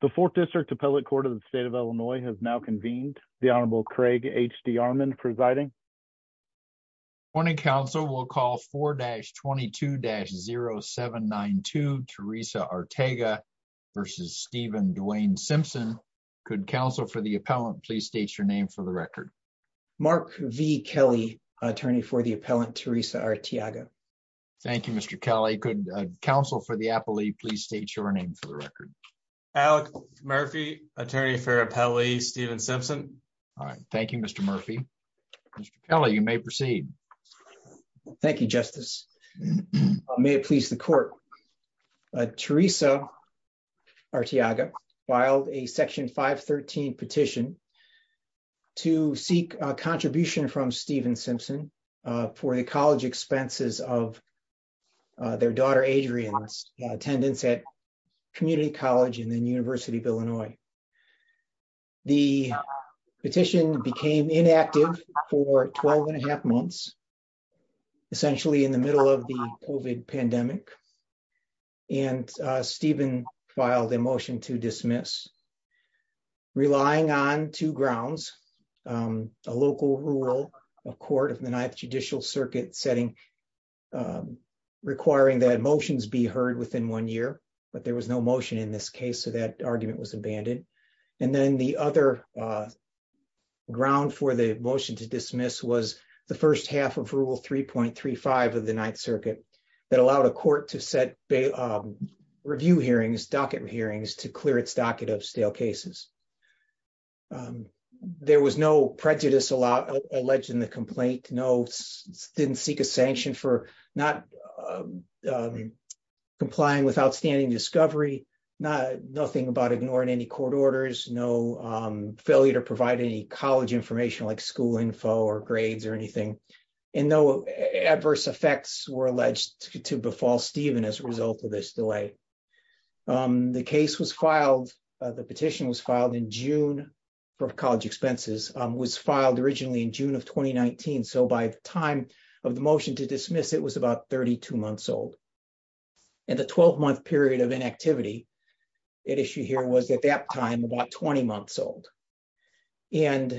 The Fourth District Appellate Court of the State of Illinois has now convened. The Honorable Craig H.D. Armond presiding. Morning, counsel. We'll call 4-22-0792 Teresa Artega v. Stephen Dwayne Simpson. Could counsel for the appellant please state your name for the record? Mark V. Kelly, attorney for the appellant, Teresa Arteaga. Thank you, Mr. Kelly. Could counsel for the appellee please state your name for the record? Alec Murphy, attorney for appellee, Stephen Simpson. Thank you, Mr. Murphy. Mr. Kelly, you may proceed. Thank you, Justice. May it please the court. Teresa Arteaga filed a section 513 petition to seek contribution from Stephen Simpson for the college expenses of their daughter Adrian's attendance at community college and then University of Illinois. The petition became inactive for 12 and a half months, essentially in the middle of the COVID pandemic. And Stephen filed a motion to dismiss, relying on two grounds, a local rule of court of the Ninth Judicial Circuit setting, requiring that motions be heard within one year. But there was no motion in this case so that argument was abandoned. And then the other ground for the motion to dismiss was the first half of Rule 3.35 of the Ninth Circuit that allowed a court to set review hearings, docket hearings to clear its docket of stale cases. There was no prejudice alleged in the complaint, didn't seek a sanction for not complying with outstanding discovery, nothing about ignoring any court orders, no failure to provide any college information like school info or grades or anything. And no adverse effects were alleged to befall Stephen as a result of this delay. The case was filed, the petition was filed in June for college expenses, was filed originally in June of 2019 so by the time of the motion to dismiss it was about 32 months old. And the 12 month period of inactivity at issue here was at that time about 20 months old. And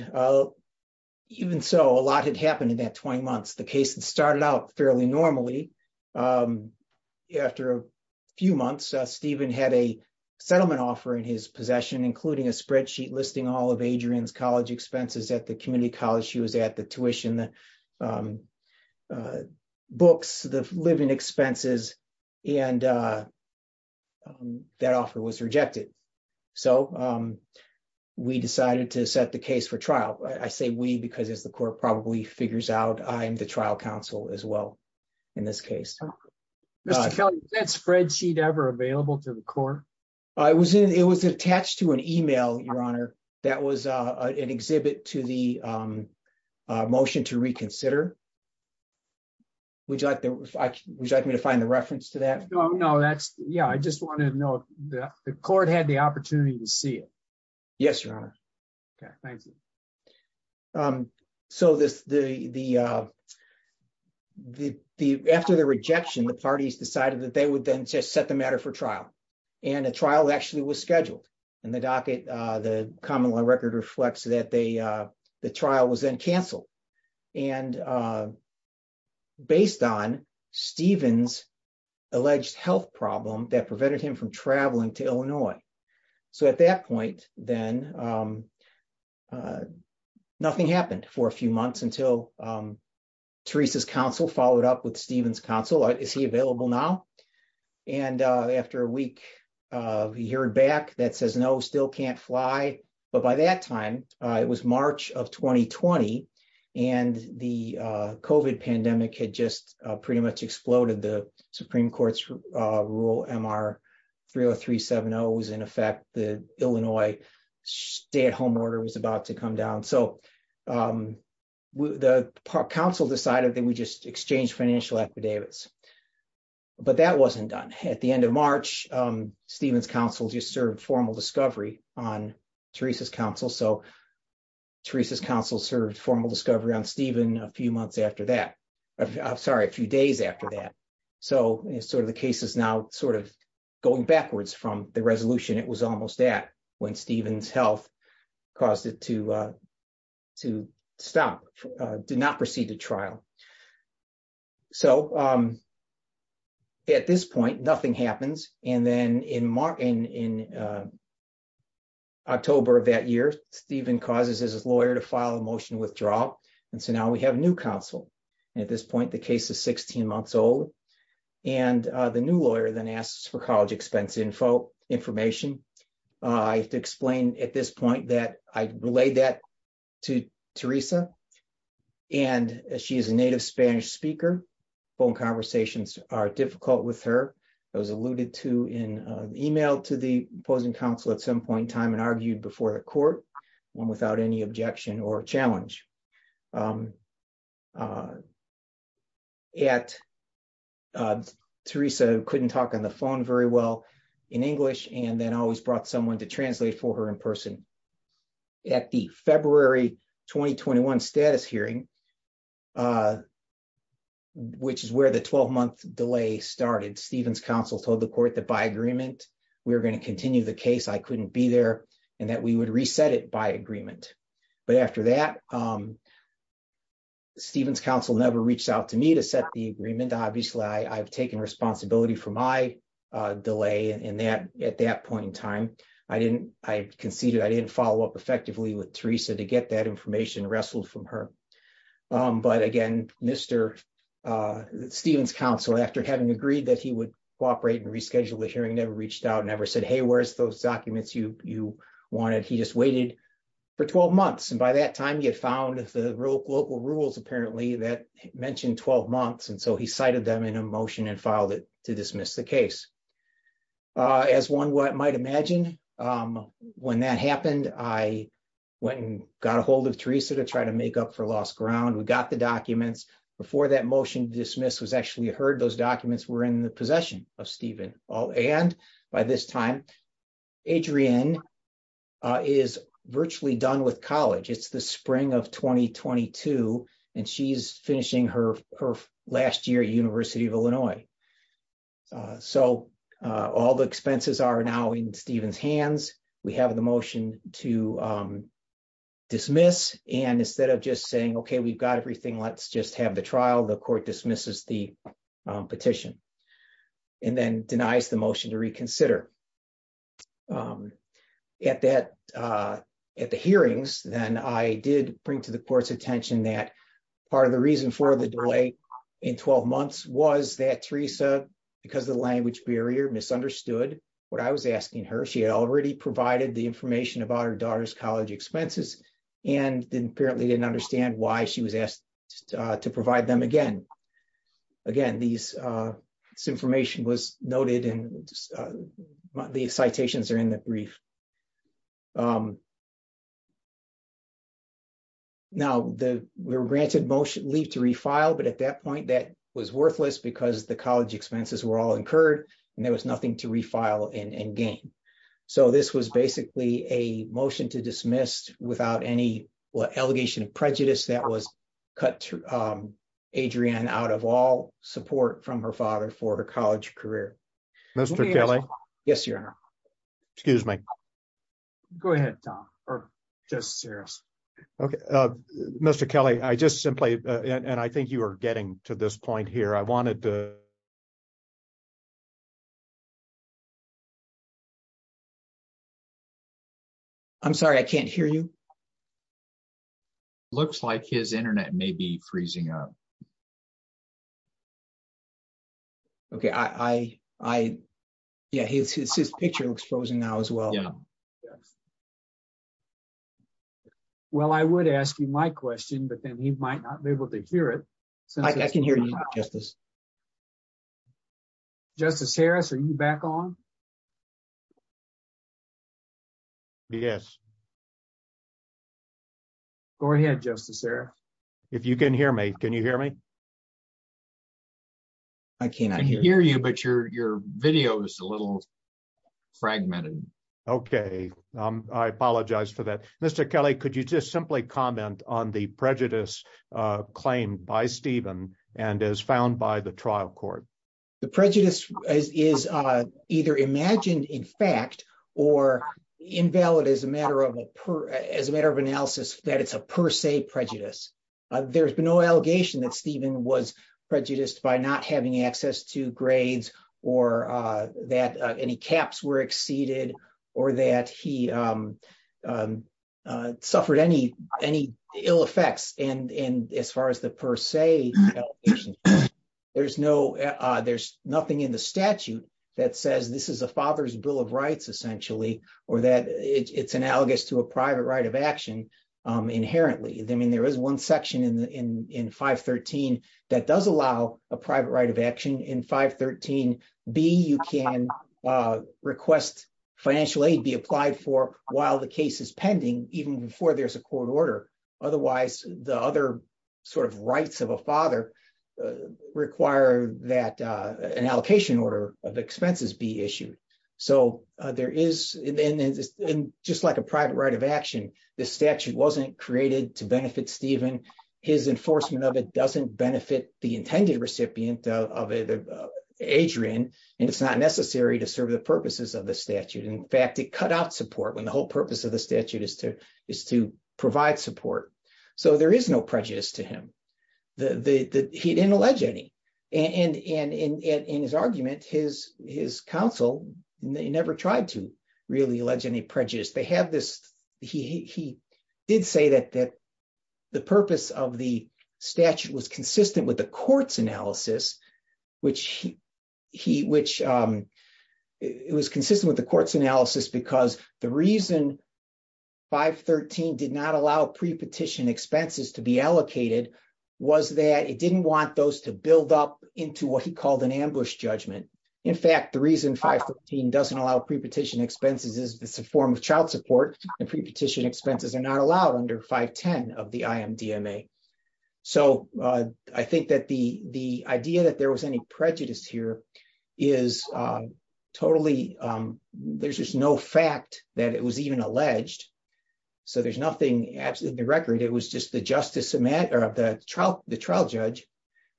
even so, a lot had happened in that 20 months. The case had started out fairly normally. After a few months, Stephen had a settlement offer in his possession, including a spreadsheet listing all of Adrian's college expenses at the community college she was at, the tuition, the books, the living expenses, and that offer was rejected. So, we decided to set the case for trial, I say we because as the court probably figures out I'm the trial counsel as well. In this case, spreadsheet ever available to the court. I was in it was attached to an email, Your Honor. That was an exhibit to the motion to reconsider. Would you like me to find the reference to that. No, no, that's, yeah, I just wanted to know that the court had the opportunity to see it. Yes, Your Honor. Okay, thank you. So this, the, the, the, the, after the rejection the parties decided that they would then just set the matter for trial, and a trial actually was scheduled in the docket, the common law record reflects that they, the trial was then canceled. And based on Stephen's alleged health problem that prevented him from traveling to Illinois. So at that point, then, nothing happened for a few months until Teresa's counsel followed up with Stephen's counsel is he available now. And after a week of he heard back that says no still can't fly. But by that time, it was March of 2020, and the coven pandemic had just pretty much exploded the Supreme Court's rule Mr. 30370 was in effect, the Illinois stay at home order was about to come down so the council decided that we just exchange financial affidavits. But that wasn't done at the end of March, Stephen's counsel just served formal discovery on Teresa's counsel so Teresa's counsel served formal discovery on Stephen, a few months after that. I'm sorry a few days after that. So, sort of the case is now sort of going backwards from the resolution it was almost that when Stephen's health caused it to to stop, did not proceed to trial. So, at this point, nothing happens. And then in Martin in October of that year, Stephen causes his lawyer to file a motion withdrawal. And so now we have new counsel. At this point, the case is 16 months old. And the new lawyer then asks for college expense info information. I have to explain at this point that I relayed that to Teresa, and she is a native Spanish speaker phone conversations are difficult with her. I was alluded to in email to the opposing counsel at some point in time and argued before the court, one without any objection or challenge at Teresa couldn't talk on the phone very well in English, and then always brought someone to translate for her in person at the February, 2021 status hearing, which is where the 12 month delay started Stephen's counsel told the court that by agreement, we're going to continue the case I couldn't be there, and that we would reset it by agreement. But after that, Stephen's counsel never reached out to me to set the agreement obviously I've taken responsibility for my delay and that at that point in time, I didn't, I conceded I didn't follow up effectively with Teresa to get that information and wrestled from her. But again, Mr. Stephen's counsel after having agreed that he would cooperate and reschedule the hearing never reached out never said hey where's those documents you, you wanted he just waited for 12 months and by that time you found the real local rules apparently that mentioned 12 months and so he cited them in a motion and filed it to dismiss the case. As one what might imagine. When that happened, I went and got ahold of Teresa to try to make up for lost ground we got the documents before that motion dismiss was actually heard those documents were in the possession of Stephen all and by this time. Adrian is virtually done with college it's the spring of 2022, and she's finishing her, her last year University of Illinois. So, all the expenses are now in Stephen's hands. We have the motion to dismiss, and instead of just saying okay we've got everything let's just have the trial the court dismisses the petition, and then denies the motion to reconsider at that. At the hearings, then I did bring to the court's attention that part of the reason for the delay in 12 months was that Teresa, because the language barrier misunderstood what I was asking her she already provided the information about her daughter's college expenses and didn't apparently didn't understand why she was asked to provide them again. Again, these information was noted and the citations are in the brief. Now the we're granted motion leave to refile but at that point that was worthless because the college expenses were all incurred, and there was nothing to refile and gain. So this was basically a motion to dismiss without any what allegation of prejudice that was cut to Adrian out of all support from her father for her college career. Yes, Your Honor. Excuse me. Go ahead, Tom, or just serious. Okay, Mr Kelly I just simply, and I think you are getting to this point here I wanted to. I'm sorry I can't hear you. Looks like his internet may be freezing up. Okay, I, I. Yeah, his his picture looks frozen now as well. Well, I would ask you my question but then he might not be able to hear it. So I can hear you, Justice. Justice Harris are you back on. Yes. Go ahead, Justice Sarah. If you can hear me. Can you hear me. I cannot hear you but your your video is a little fragmented. Okay, I apologize for that, Mr Kelly, could you just simply comment on the prejudice claim by Stephen, and as found by the trial court. The prejudice is either imagined in fact, or invalid as a matter of a per, as a matter of analysis, that it's a per se prejudice. There's been no allegation that Stephen was prejudiced by not having access to grades, or that any caps were exceeded, or that he suffered any, any ill effects and and as far as the per se. There's no, there's nothing in the statute that says this is a father's Bill of Rights essentially, or that it's analogous to a private right of action. Inherently, I mean there is one section in the in in 513, that does allow a private right of action in 513 be you can request financial aid be applied for while the case is pending, even before there's a court order. Otherwise, the other sort of rights of a father require that an allocation order of expenses be issued. So, there is in just like a private right of action, the statute wasn't created to benefit Stephen, his enforcement of it doesn't benefit the So there is no prejudice to him. The, he didn't allege any, and in his argument, his, his counsel, they never tried to really allege any prejudice, they have this, he did say that that the purpose of the statute was consistent with the court's analysis, which he, which it was consistent with the court's analysis because the reason 513 did not allow pre petition expenses to be allocated, was that it didn't want those to build up into what he called an ambush judgment. In fact, the reason 513 doesn't allow pre petition expenses is this a form of child support and pre petition expenses are not allowed under 510 of the IMDMA. So, I think that the, the idea that there was any prejudice here is totally, there's just no fact that it was even alleged. So there's nothing absolutely record it was just the justice of the trial, the trial judge,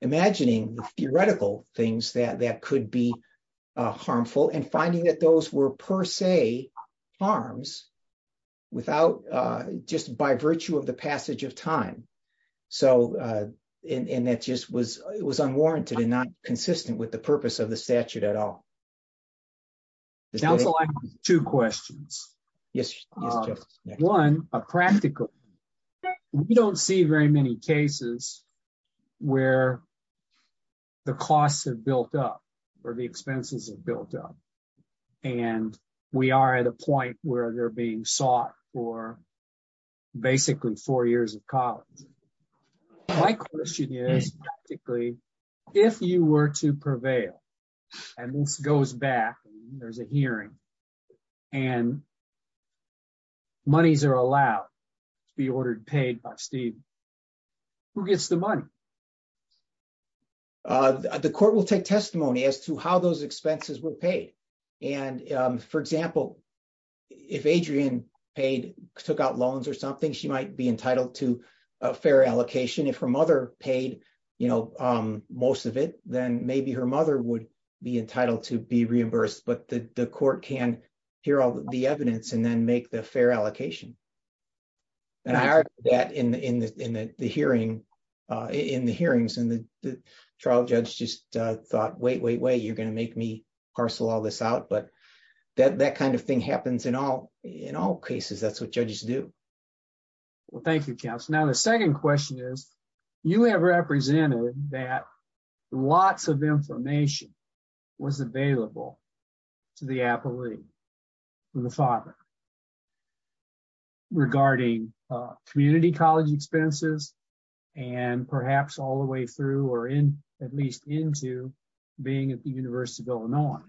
imagining the theoretical things that that could be harmful and finding that those were per se arms, without just by virtue of the passage of time. So, in that just was, it was unwarranted and not consistent with the purpose of the statute at all. Two questions. Yes. One, a practical. We don't see very many cases where the costs have built up for the expenses have built up. And we are at a point where they're being sought for basically four years of college. My question is, if you were to prevail. And this goes back, there's a hearing and monies are allowed to be ordered paid by Steve, who gets the money. The court will take testimony as to how those expenses were paid. And, for example, if Adrian paid took out loans or something she might be entitled to a fair allocation if her mother paid, you know, most of it, then maybe her mother would be entitled to be reimbursed but the court can hear all the evidence and then make the fair allocation. And I heard that in the in the in the hearing in the hearings and the trial judge just thought, wait, wait, wait, you're going to make me parcel all this out but that that kind of thing happens in all, in all cases that's what judges do. Well, thank you. Now the second question is, you have represented that lots of information was available to the appellee. The father regarding community college expenses, and perhaps all the way through or in, at least into being at the University of Illinois.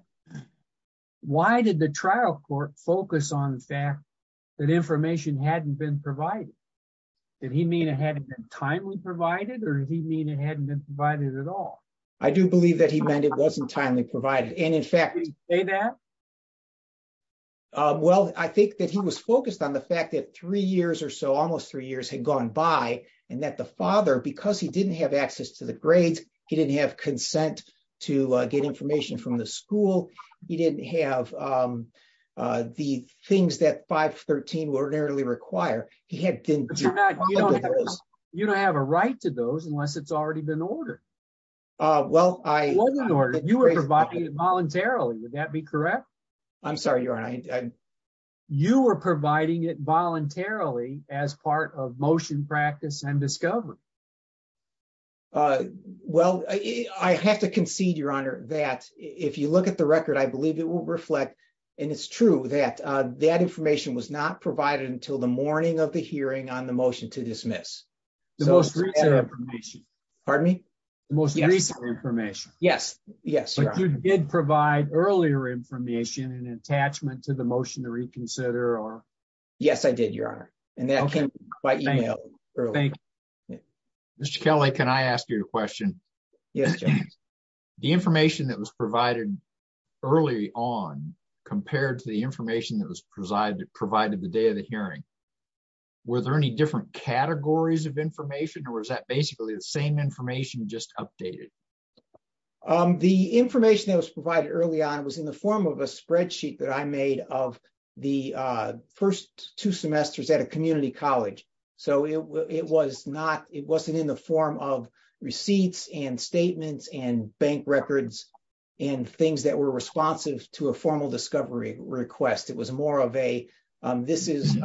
Why did the trial court focus on the fact that information hadn't been provided. Did he mean it hadn't been timely provided or he mean it hadn't been provided at all. I do believe that he meant it wasn't timely provided and in fact, a that. Well, I think that he was focused on the fact that three years or so almost three years had gone by, and that the father because he didn't have access to the grades. He didn't have consent to get information from the school. He didn't have the things that 513 ordinarily require he had. You don't have a right to those unless it's already been ordered. Well, I know you are providing it voluntarily would that be correct. I'm sorry you're on. You are providing it voluntarily as part of motion practice and discovery. Well, I have to concede your honor that if you look at the record I believe it will reflect. And it's true that that information was not provided until the morning of the hearing on the motion to dismiss. The most recent information. Pardon me. Most recent information. Yes, yes, you did provide earlier information and attachment to the motion to reconsider or. Yes, I did your honor, and that came by email. Mr Kelly Can I ask you a question. Yes. The information that was provided early on, compared to the information that was presided provided the day of the hearing. Were there any different categories of information or is that basically the same information just updated the information that was provided early on was in the form of a spreadsheet that I made of the first two semesters at a community college. So it was not, it wasn't in the form of receipts and statements and bank records and things that were responsive to a formal discovery request it was more of a. This is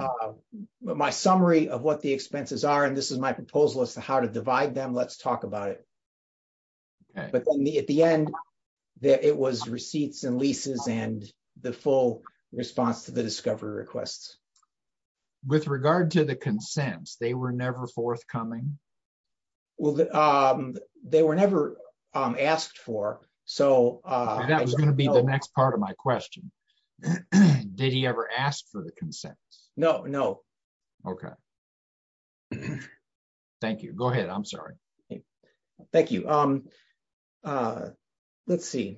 my summary of what the expenses are and this is my proposal as to how to divide them let's talk about it. But at the end, that it was receipts and leases and the full response to the discovery requests. With regard to the consents they were never forthcoming. Well, they were never asked for. So, that was going to be the next part of my question. Did he ever asked for the consent. No, no. Okay. Thank you. Go ahead. I'm sorry. Thank you. Let's see.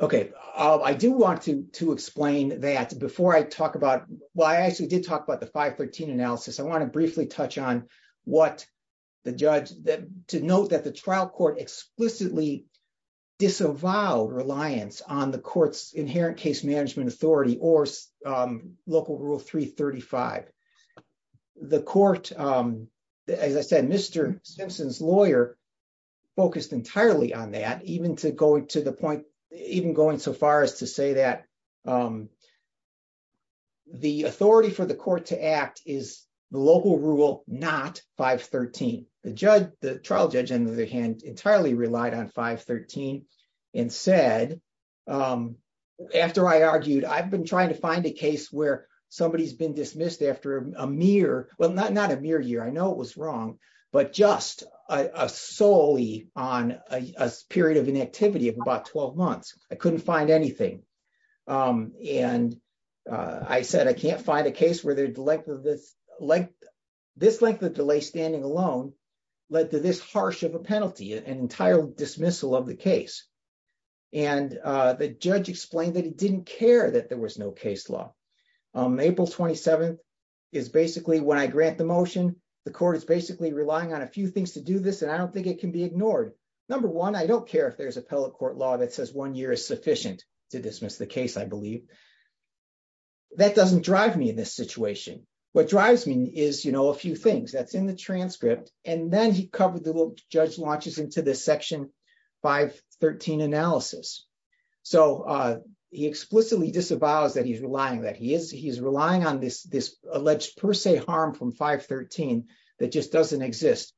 Okay, I do want to explain that before I talk about why I actually did talk about the 513 analysis I want to briefly touch on what the judge that to note that the trial court explicitly disavow reliance on the courts inherent case management authority or local rule 335. The court. As I said, Mr. Simpson's lawyer focused entirely on that even to go to the point, even going so far as to say that the authority for the court to act is local rule, not 513, the judge, the trial judge and the hand entirely relied on 513 and said, After I argued I've been trying to find a case where somebody has been dismissed after a mere well not not a mere year I know it was wrong, but just a solely on a period of an activity of about 12 months, I couldn't find anything. And I said, I can't find a case where the length of this length, this length of delay standing alone, led to this harsh of a penalty and entitled dismissal of the case. And the judge explained that he didn't care that there was no case law. April 27 is basically when I grant the motion, the court is basically relying on a few things to do this and I don't think it can be ignored. Number one, I don't care if there's a pellet court law that says one year is sufficient to dismiss the case I believe that doesn't drive me in this situation. What drives me is you know a few things that's in the transcript, and then he covered the judge launches into this section 513 analysis. So, he explicitly disavows that he's relying that he is he's relying on this, this alleged per se harm from 513 that just doesn't exist.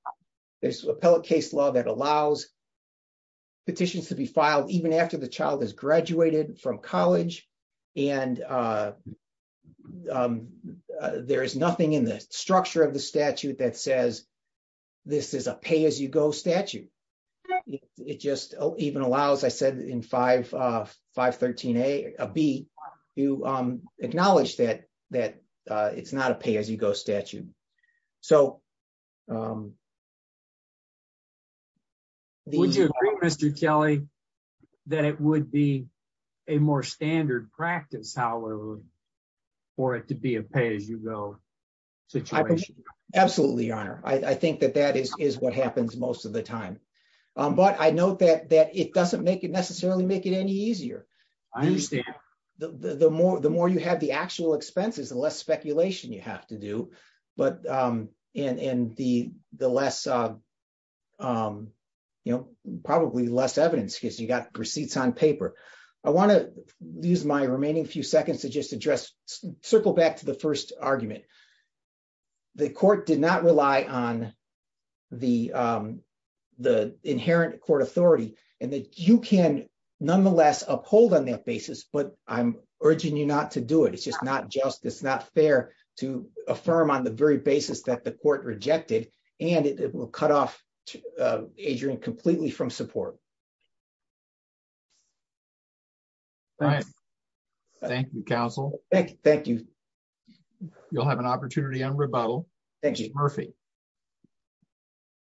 There's a pellet case law that allows petitions to be filed even after the child has graduated from college, and there is nothing in the structure of the statute that says this is a pay as you go statute. It just even allows I said in 5513 a be you acknowledge that, that it's not a pay as you go statute. So, Mr Kelly, that it would be a more standard practice, however, for it to be a pay as you go situation. Absolutely, Your Honor, I think that that is what happens most of the time, but I know that that it doesn't make it necessarily make it any easier. I understand the more the more you have the actual expenses and less speculation you have to do, but in the, the less, you know, probably less evidence because you got receipts on paper. I want to use my remaining few seconds to just address circle back to the first argument. The court did not rely on the, the inherent court authority, and that you can nonetheless uphold on that basis but I'm urging you not to do it it's just not just it's not fair to affirm on the very basis that the court rejected, and it will cut off. Adrian completely from support. Thank you counsel. Thank you. You'll have an opportunity on rebuttal. Thank you, Murphy.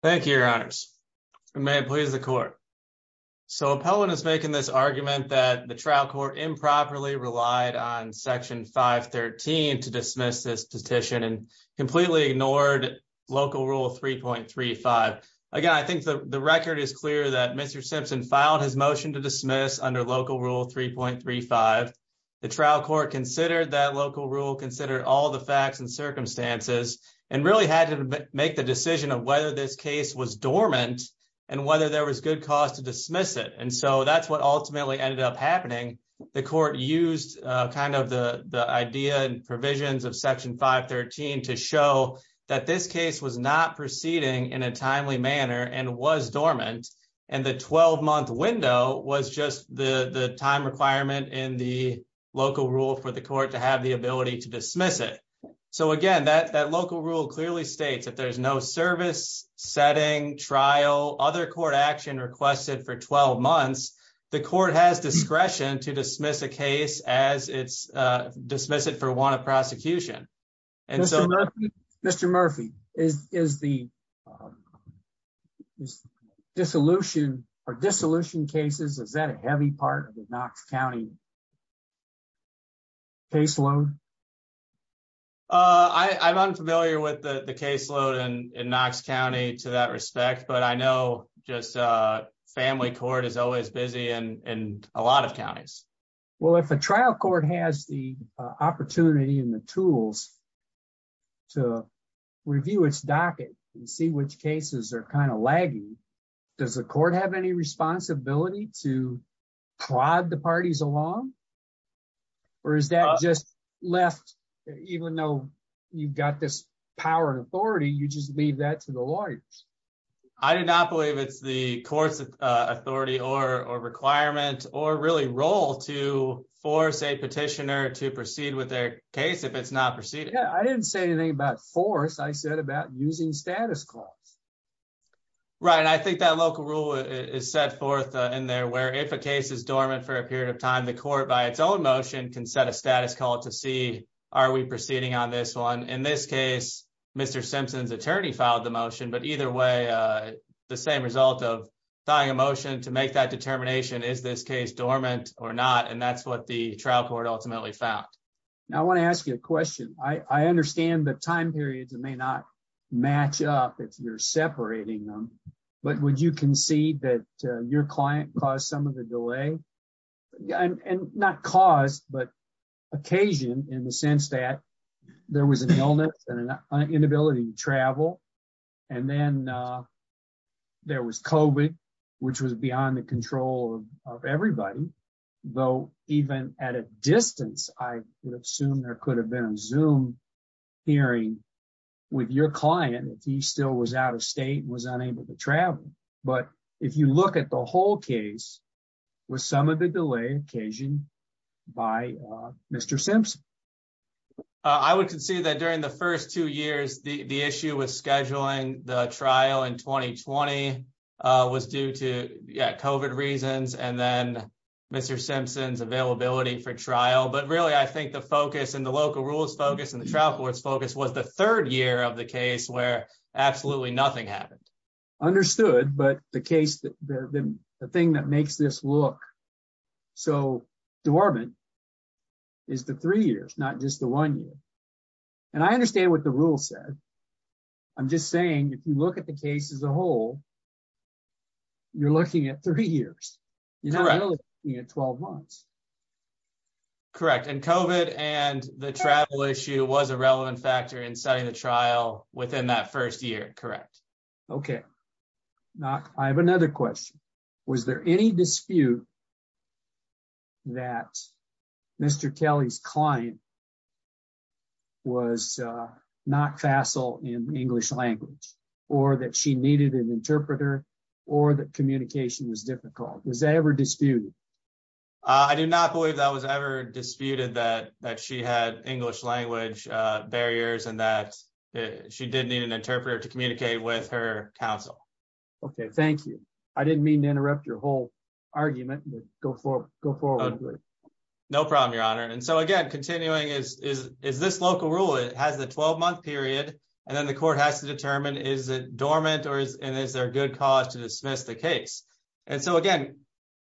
Thank you, Your Honors, may it please the court. So, appellate is making this argument that the trial court improperly relied on section 513 to dismiss this petition and completely ignored local rule 3.35. Again, I think the record is clear that Mr Simpson filed his motion to dismiss under local rule 3.35. The trial court considered that local rule consider all the facts and circumstances, and really had to make the decision of whether this case was dormant, and whether there was good cause to dismiss it and so that's what ultimately ended up happening. The court used kind of the, the idea and provisions of section 513 to show that this case was not proceeding in a timely manner and was dormant, and the 12 month window was just the time requirement in the local rule for the court to have the ability to dismiss it. So again that that local rule clearly states that there's no service setting trial other court action requested for 12 months. The court has discretion to dismiss a case as it's dismiss it for one of prosecution. And so, Mr Murphy is the dissolution or dissolution cases is that a heavy part of the Knox County caseload. I'm unfamiliar with the caseload and in Knox County to that respect but I know, just a family court is always busy and a lot of counties. Well if a trial court has the opportunity and the tools to review its docket and see which cases are kind of lagging. Does the court have any responsibility to prod the parties along. Or is that just left, even though you've got this power and authority you just leave that to the lawyers. I did not believe it's the courts authority or requirement or really role to force a petitioner to proceed with their case if it's not proceeding I didn't say anything about force I said about using status calls. Right, I think that local rule is set forth in there where if a case is dormant for a period of time the court by its own motion can set a status call to see, are we proceeding on this one in this case, Mr Simpson's attorney filed the motion but either way. The same result of dying emotion to make that determination is this case dormant or not and that's what the trial court ultimately found. Now I want to ask you a question, I understand the time periods and may not match up if you're separating them. But would you concede that your client caused some of the delay. And not cause but occasion in the sense that there was an illness and an inability to travel. And then there was Kobe, which was beyond the control of everybody, though, even at a distance, I would assume there could have been zoom hearing with your client if he still was out of state was unable to travel. But if you look at the whole case was some of the delay occasion by Mr Simpson. I would concede that during the first two years, the issue was scheduling the trial and 2020 was due to covert reasons and then Mr Simpson's availability for trial but really I think the focus and the local rules focus and the travel was focused was the third year of the case where absolutely nothing happened. Understood, but the case that the thing that makes this look so dormant is the three years, not just the one year. And I understand what the rule said. I'm just saying if you look at the case as a whole. You're looking at three years. 12 months. Correct and covert and the travel issue was a relevant factor in setting the trial within that first year. Correct. Okay. Now, I have another question. Was there any dispute that Mr Kelly's client was not facile in English language, or that she needed an interpreter, or that communication was difficult. Was that ever disputed. I do not believe that was ever disputed that that she had English language barriers and that she didn't need an interpreter to communicate with her counsel. Okay, thank you. I didn't mean to interrupt your whole argument, go for go forward. No problem, your honor and so again continuing is, is, is this local rule it has the 12 month period, and then the court has to determine is it dormant or is, and is there a good cause to dismiss the case. And so again,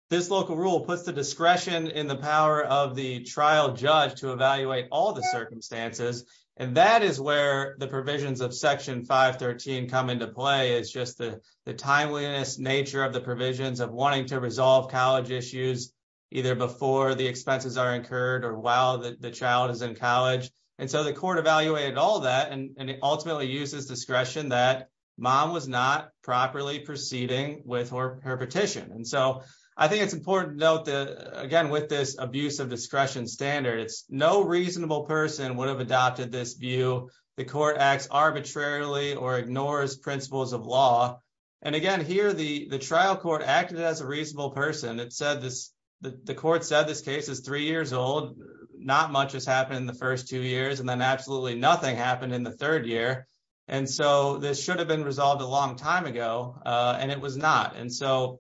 this local rule puts the discretion in the power of the trial judge to evaluate all the circumstances. And that is where the provisions of section 513 come into play is just the timeliness nature of the provisions of wanting to resolve college issues, either before the expenses are incurred or while the child is in college. And so the court evaluated all that and ultimately uses discretion that mom was not properly proceeding with her, her petition. And so I think it's important to note that, again, with this abuse of discretion standards, no reasonable person would have adopted this view, the court acts arbitrarily or ignores principles of law. And again here the the trial court acted as a reasonable person it said this, the court said this case is three years old, not much has happened in the first two years and then absolutely nothing happened in the third year. And so this should have been resolved a long time ago, and it was not and so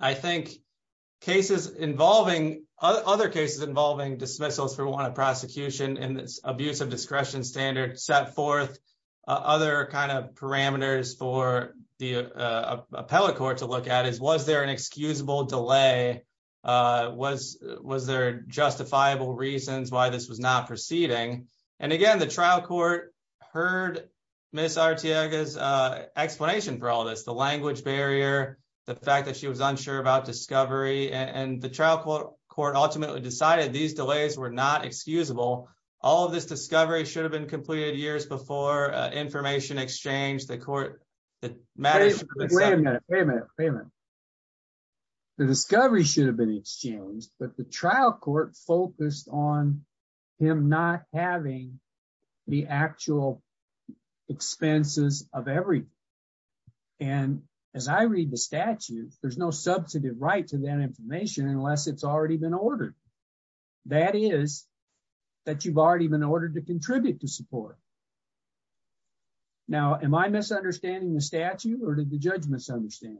I think cases involving other cases involving dismissals for one of prosecution and abuse of discretion standard set forth other kind of parameters for the appellate court to look at is was there an excusable delay. Was, was there justifiable reasons why this was not proceeding. And again, the trial court heard Miss artiegas explanation for all this the language barrier. The fact that she was unsure about discovery and the trial court court ultimately decided these delays were not excusable. All of this discovery should have been completed years before information exchange the court. Wait a minute, wait a minute. The discovery should have been exchanged, but the trial court focused on him not having the actual expenses of every. And as I read the statute, there's no substantive right to that information unless it's already been ordered. That is that you've already been ordered to contribute to support. Now, am I misunderstanding the statute or did the judge misunderstand.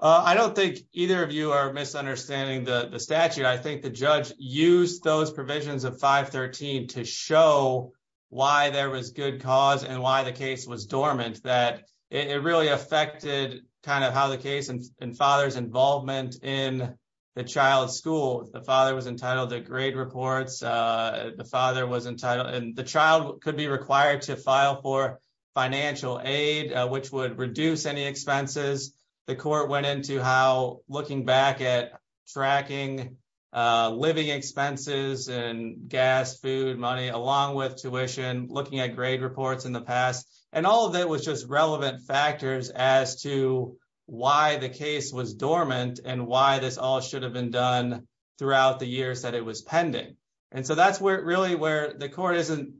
I don't think either of you are misunderstanding the statute I think the judge use those provisions of 513 to show why there was good cause and why the case was dormant that it really affected, kind of how the case and and father's involvement in the child school, the father was entitled to grade reports. The father was entitled and the child could be required to file for financial aid, which would reduce any expenses. The court went into how looking back at tracking living expenses and gas food money along with tuition, looking at grade reports in the past, and all of that information throughout the years that it was pending. And so that's where really where the court isn't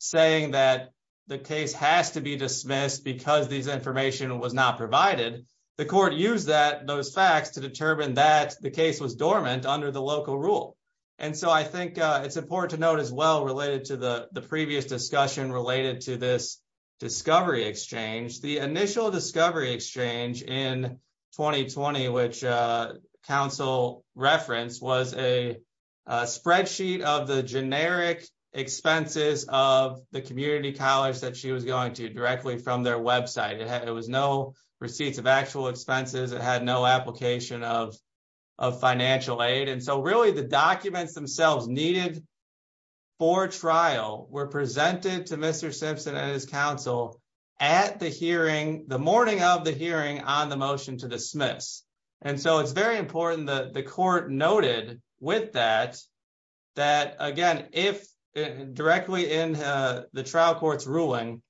saying that the case has to be dismissed because these information was not provided the court use that those facts to determine that the case was dormant under the local rule. And so I think it's important to note as well related to the, the previous discussion related to this discovery exchange the initial discovery exchange in 2020 which council reference was a spreadsheet of the generic expenses of the community college that she was going to So the documents themselves needed for trial were presented to Mr Simpson and his counsel at the hearing the morning of the hearing on the motion to dismiss. And so it's very important that the court noted with that, that, again, if directly in the trial courts ruling.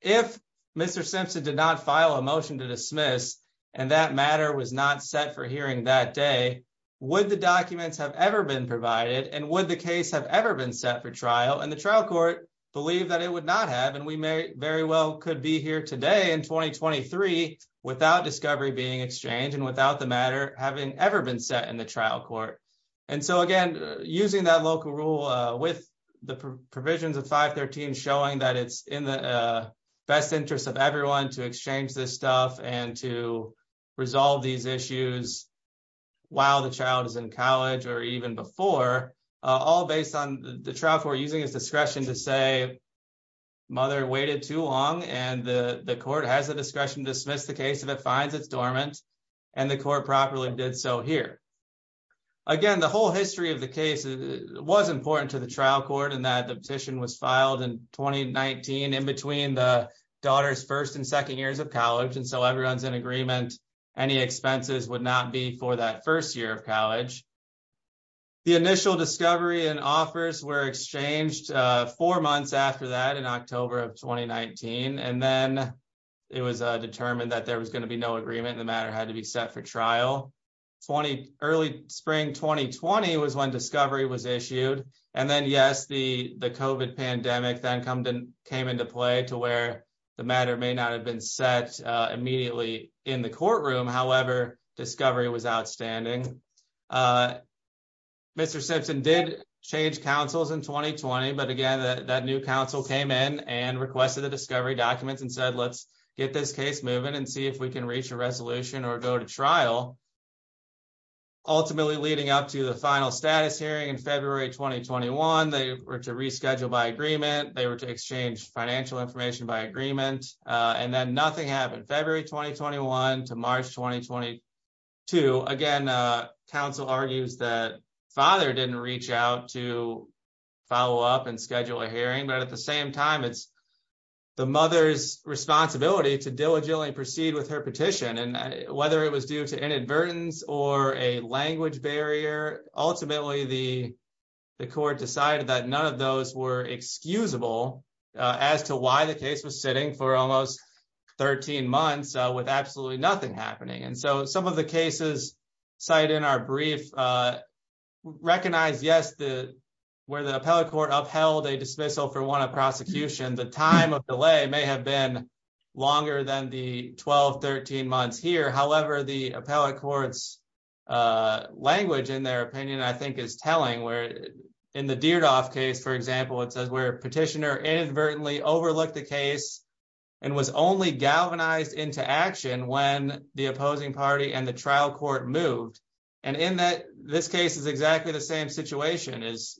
If Mr Simpson did not file a motion to dismiss and that matter was not set for hearing that day. Would the documents have ever been provided and what the case have ever been set for trial and the trial court, believe that it would not have and we may very well could be here today in 2023 without discovery being exchanged and without the matter, having ever been set in the trial court. And so again, using that local rule with the provisions of 513 showing that it's in the best interest of everyone to exchange this stuff and to resolve these issues. While the child is in college, or even before all based on the trial for using his discretion to say mother waited too long and the court has the discretion to dismiss the case of it finds it's dormant and the core properly did so here. Again, the whole history of the case was important to the trial court and that the petition was filed in 2019 in between the daughter's first and second years of college and so everyone's in agreement. Any expenses would not be for that first year of college. The initial discovery and offers were exchanged four months after that in October of 2019 and then it was determined that there was going to be no agreement and the matter had to be set for trial. Early spring 2020 was when discovery was issued. And then yes, the, the coven pandemic then come to came into play to where the matter may not have been set immediately in the courtroom however discovery was outstanding. Mr Simpson did change councils in 2020 but again that new council came in and requested the discovery documents and said let's get this case moving and see if we can reach a resolution or go to trial. Ultimately, leading up to the final status hearing in February 2021 they were to reschedule by agreement, they were to exchange financial information by agreement, and then nothing happened February 2021 to March 2022 again. Council argues that father didn't reach out to follow up and schedule a hearing but at the same time it's the mother's responsibility to diligently proceed with her petition and whether it was due to inadvertence or a language barrier. Ultimately, the, the court decided that none of those were excusable as to why the case was sitting for almost 13 months with absolutely nothing happening and so some of the cases cited in our brief recognize yes the where the appellate court upheld a dismissal for one of prosecution the time of delay may have been longer than the 1213 months here however the appellate courts language in their opinion I think is telling where in the Deardorff case for example it says where petitioner inadvertently overlook the case and was only galvanized into action when the opposing party and the trial court moved. And in that this case is exactly the same situation is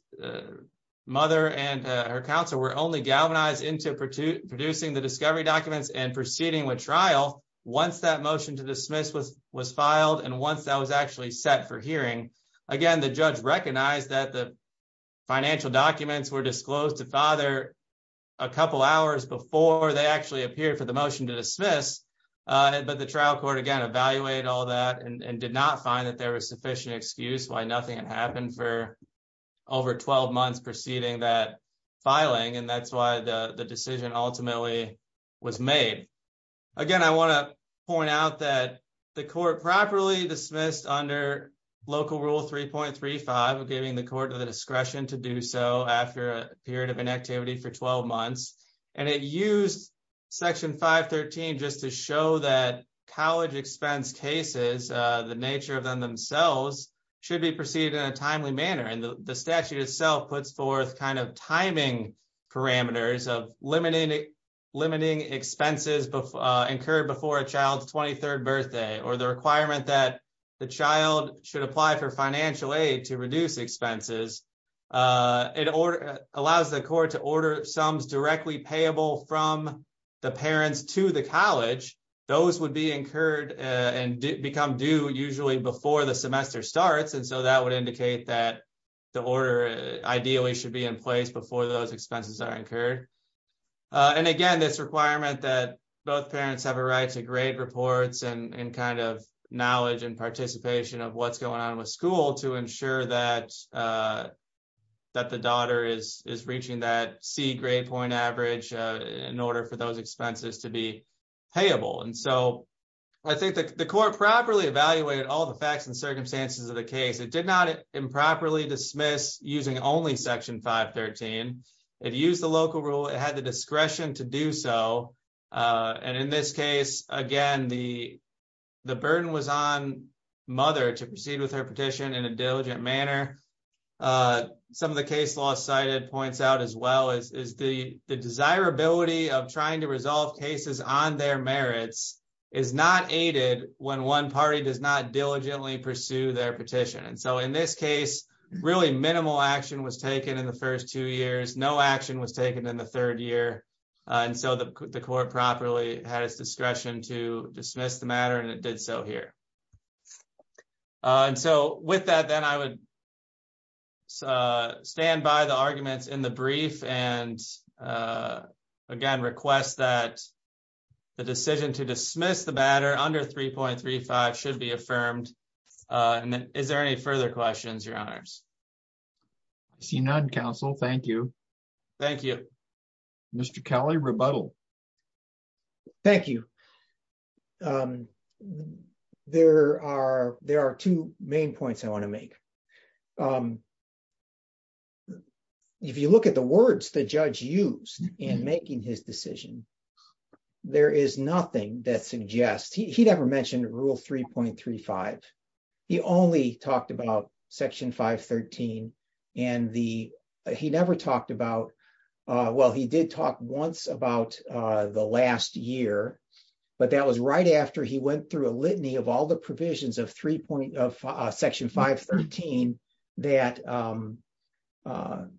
mother and her counselor were only galvanized into producing the discovery documents and proceeding with trial. Once that motion to dismiss was was filed and once that was actually set for hearing. Again, the judge recognize that the financial documents were disclosed to father, a couple hours before they actually appear for the motion to dismiss. But the trial court again evaluate all that and did not find that there was sufficient excuse why nothing had happened for over 12 months preceding that filing and that's why the decision ultimately was made. Again, I want to point out that the court properly dismissed under local rule 3.35 giving the court of the discretion to do so after a period of inactivity for 12 months, and it used section 513 just to show that college expense cases, the nature of them themselves, should be proceeded in a timely manner and the statute itself puts forth kind of timing parameters of limiting expenses incurred before a child's 23rd birthday or the requirement that the child should apply for financial aid to reduce expenses. It allows the court to order sums directly payable from the parents to the college. Those would be incurred and become due usually before the semester starts and so that would indicate that the order ideally should be in place before those expenses are incurred. And again, this requirement that both parents have a right to grade reports and kind of knowledge and participation of what's going on with school to ensure that the daughter is reaching that C grade point average in order for those expenses to be payable. I think the court properly evaluated all the facts and circumstances of the case. It did not improperly dismiss using only section 513. It used the local rule. It had the discretion to do so. And in this case, again, the burden was on mother to proceed with her petition in a diligent manner. Some of the case law cited points out as well is the desirability of trying to resolve cases on their merits is not aided when one party does not diligently pursue their petition. And so in this case, really minimal action was taken in the first two years. No action was taken in the third year. And so the court properly has discretion to dismiss the matter and it did so here. And so with that, then I would stand by the arguments in the brief and again request that the decision to dismiss the batter under 3.35 should be affirmed. And then, is there any further questions, your honors. See none Council. Thank you. Thank you, Mr Kelly rebuttal. Thank you. There are, there are two main points I want to make. If you look at the words the judge used in making his decision. There is nothing that suggests he never mentioned rule 3.35. He only talked about section 513, and the, he never talked about. Well he did talk once about the last year, but that was right after he went through a litany of all the provisions of three point of section 513 that that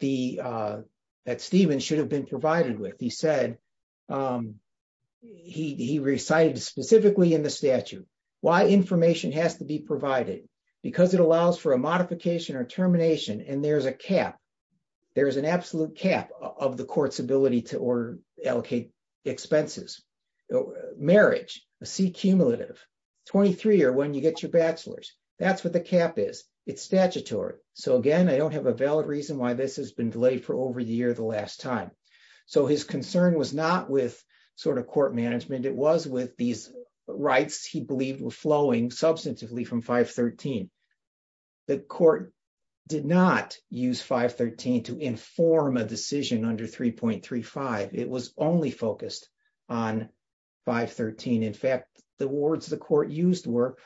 the that Stephen should have been provided with he said he recited specifically in the statute, why information has to be provided, because it allows for a modification or termination and there's a cap. There is an absolute cap of the courts ability to order allocate expenses, marriage, a C cumulative 23 or when you get your bachelor's, that's what the cap is, it's statutory. So again I don't have a valid reason why this has been delayed for over the year the last time. So his concern was not with sort of court management it was with these rights he believed were flowing substantively from 513. The court did not use 513 to inform a decision under 3.35, it was only focused on 513 in fact, the words the court used were.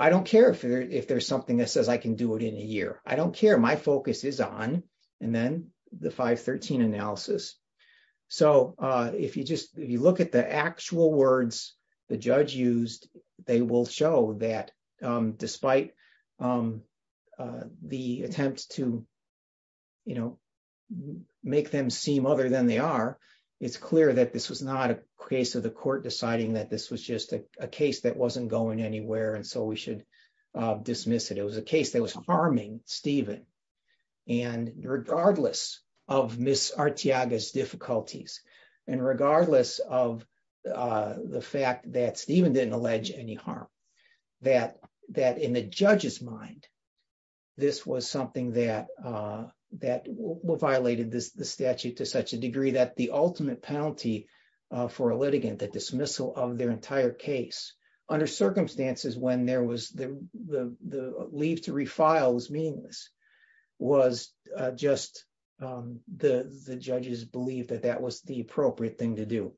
I don't care if there's something that says I can do it in a year, I don't care my focus is on, and then the 513 analysis. So, if you just, you look at the actual words, the judge used, they will show that despite the attempt to, you know, make them seem other than they are. It's clear that this was not a case of the court deciding that this was just a case that wasn't going anywhere and so we should dismiss it it was a case that was harming Stephen. And regardless of Miss Arteaga's difficulties, and regardless of the fact that Stephen didn't allege any harm, that in the judge's mind, this was something that violated the statute to such a degree that the ultimate penalty for a litigant the dismissal of their entire case under circumstances when there was the leave to refile was meaningless was just the judges believe that that was the appropriate thing to do.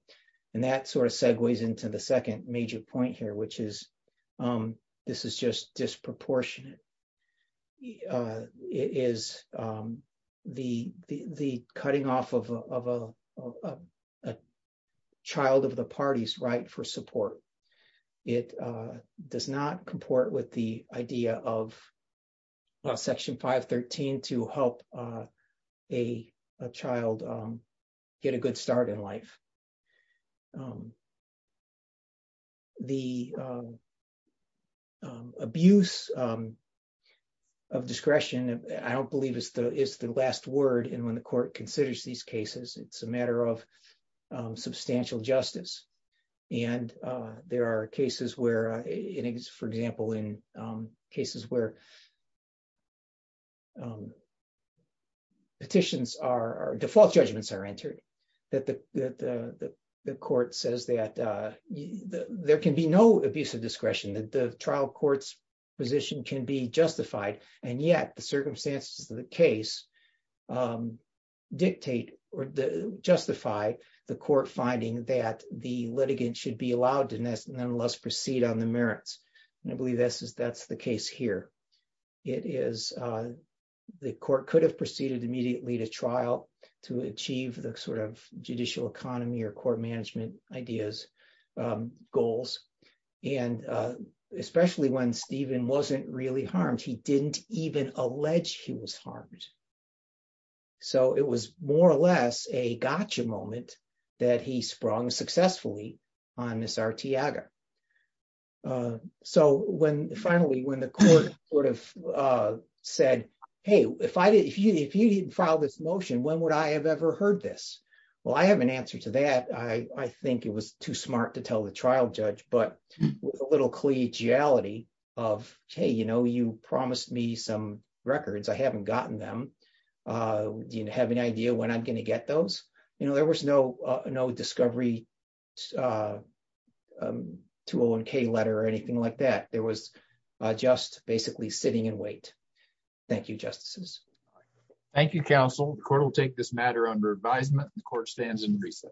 And that sort of segues into the second major point here which is, this is just disproportionate. It is the, the cutting off of a child of the parties right for support. It does not comport with the idea of Section 513 to help a child. Get a good start in life. The abuse of discretion, I don't believe is the is the last word and when the court considers these cases, it's a matter of substantial justice. And there are cases where it is for example in cases where petitions are default judgments are entered, that the, the court says that there can be no abuse of discretion that the trial courts position can be justified, and yet the circumstances of the case dictate or the justify the court finding that the litigant should be allowed to nest and then let's proceed on the merits. And I believe this is that's the case here. It is the court could have proceeded immediately to trial to achieve the sort of judicial economy or court management ideas goals, and especially when Stephen wasn't really harmed he didn't even allege he was harmed. So it was more or less a gotcha moment that he sprung successfully on Miss Arteaga. So when finally when the court would have said, hey, if I did if you if you didn't file this motion when would I have ever heard this. Well I have an answer to that I think it was too smart to tell the trial judge but a little collegiality of, hey, you know you promised me some records I haven't gotten them. Do you have any idea when I'm going to get those, you know, there was no no discovery tool and K letter or anything like that there was just basically sitting in wait. Thank you, Justices. Thank you, counsel, the court will take this matter under advisement, the court stands in recess.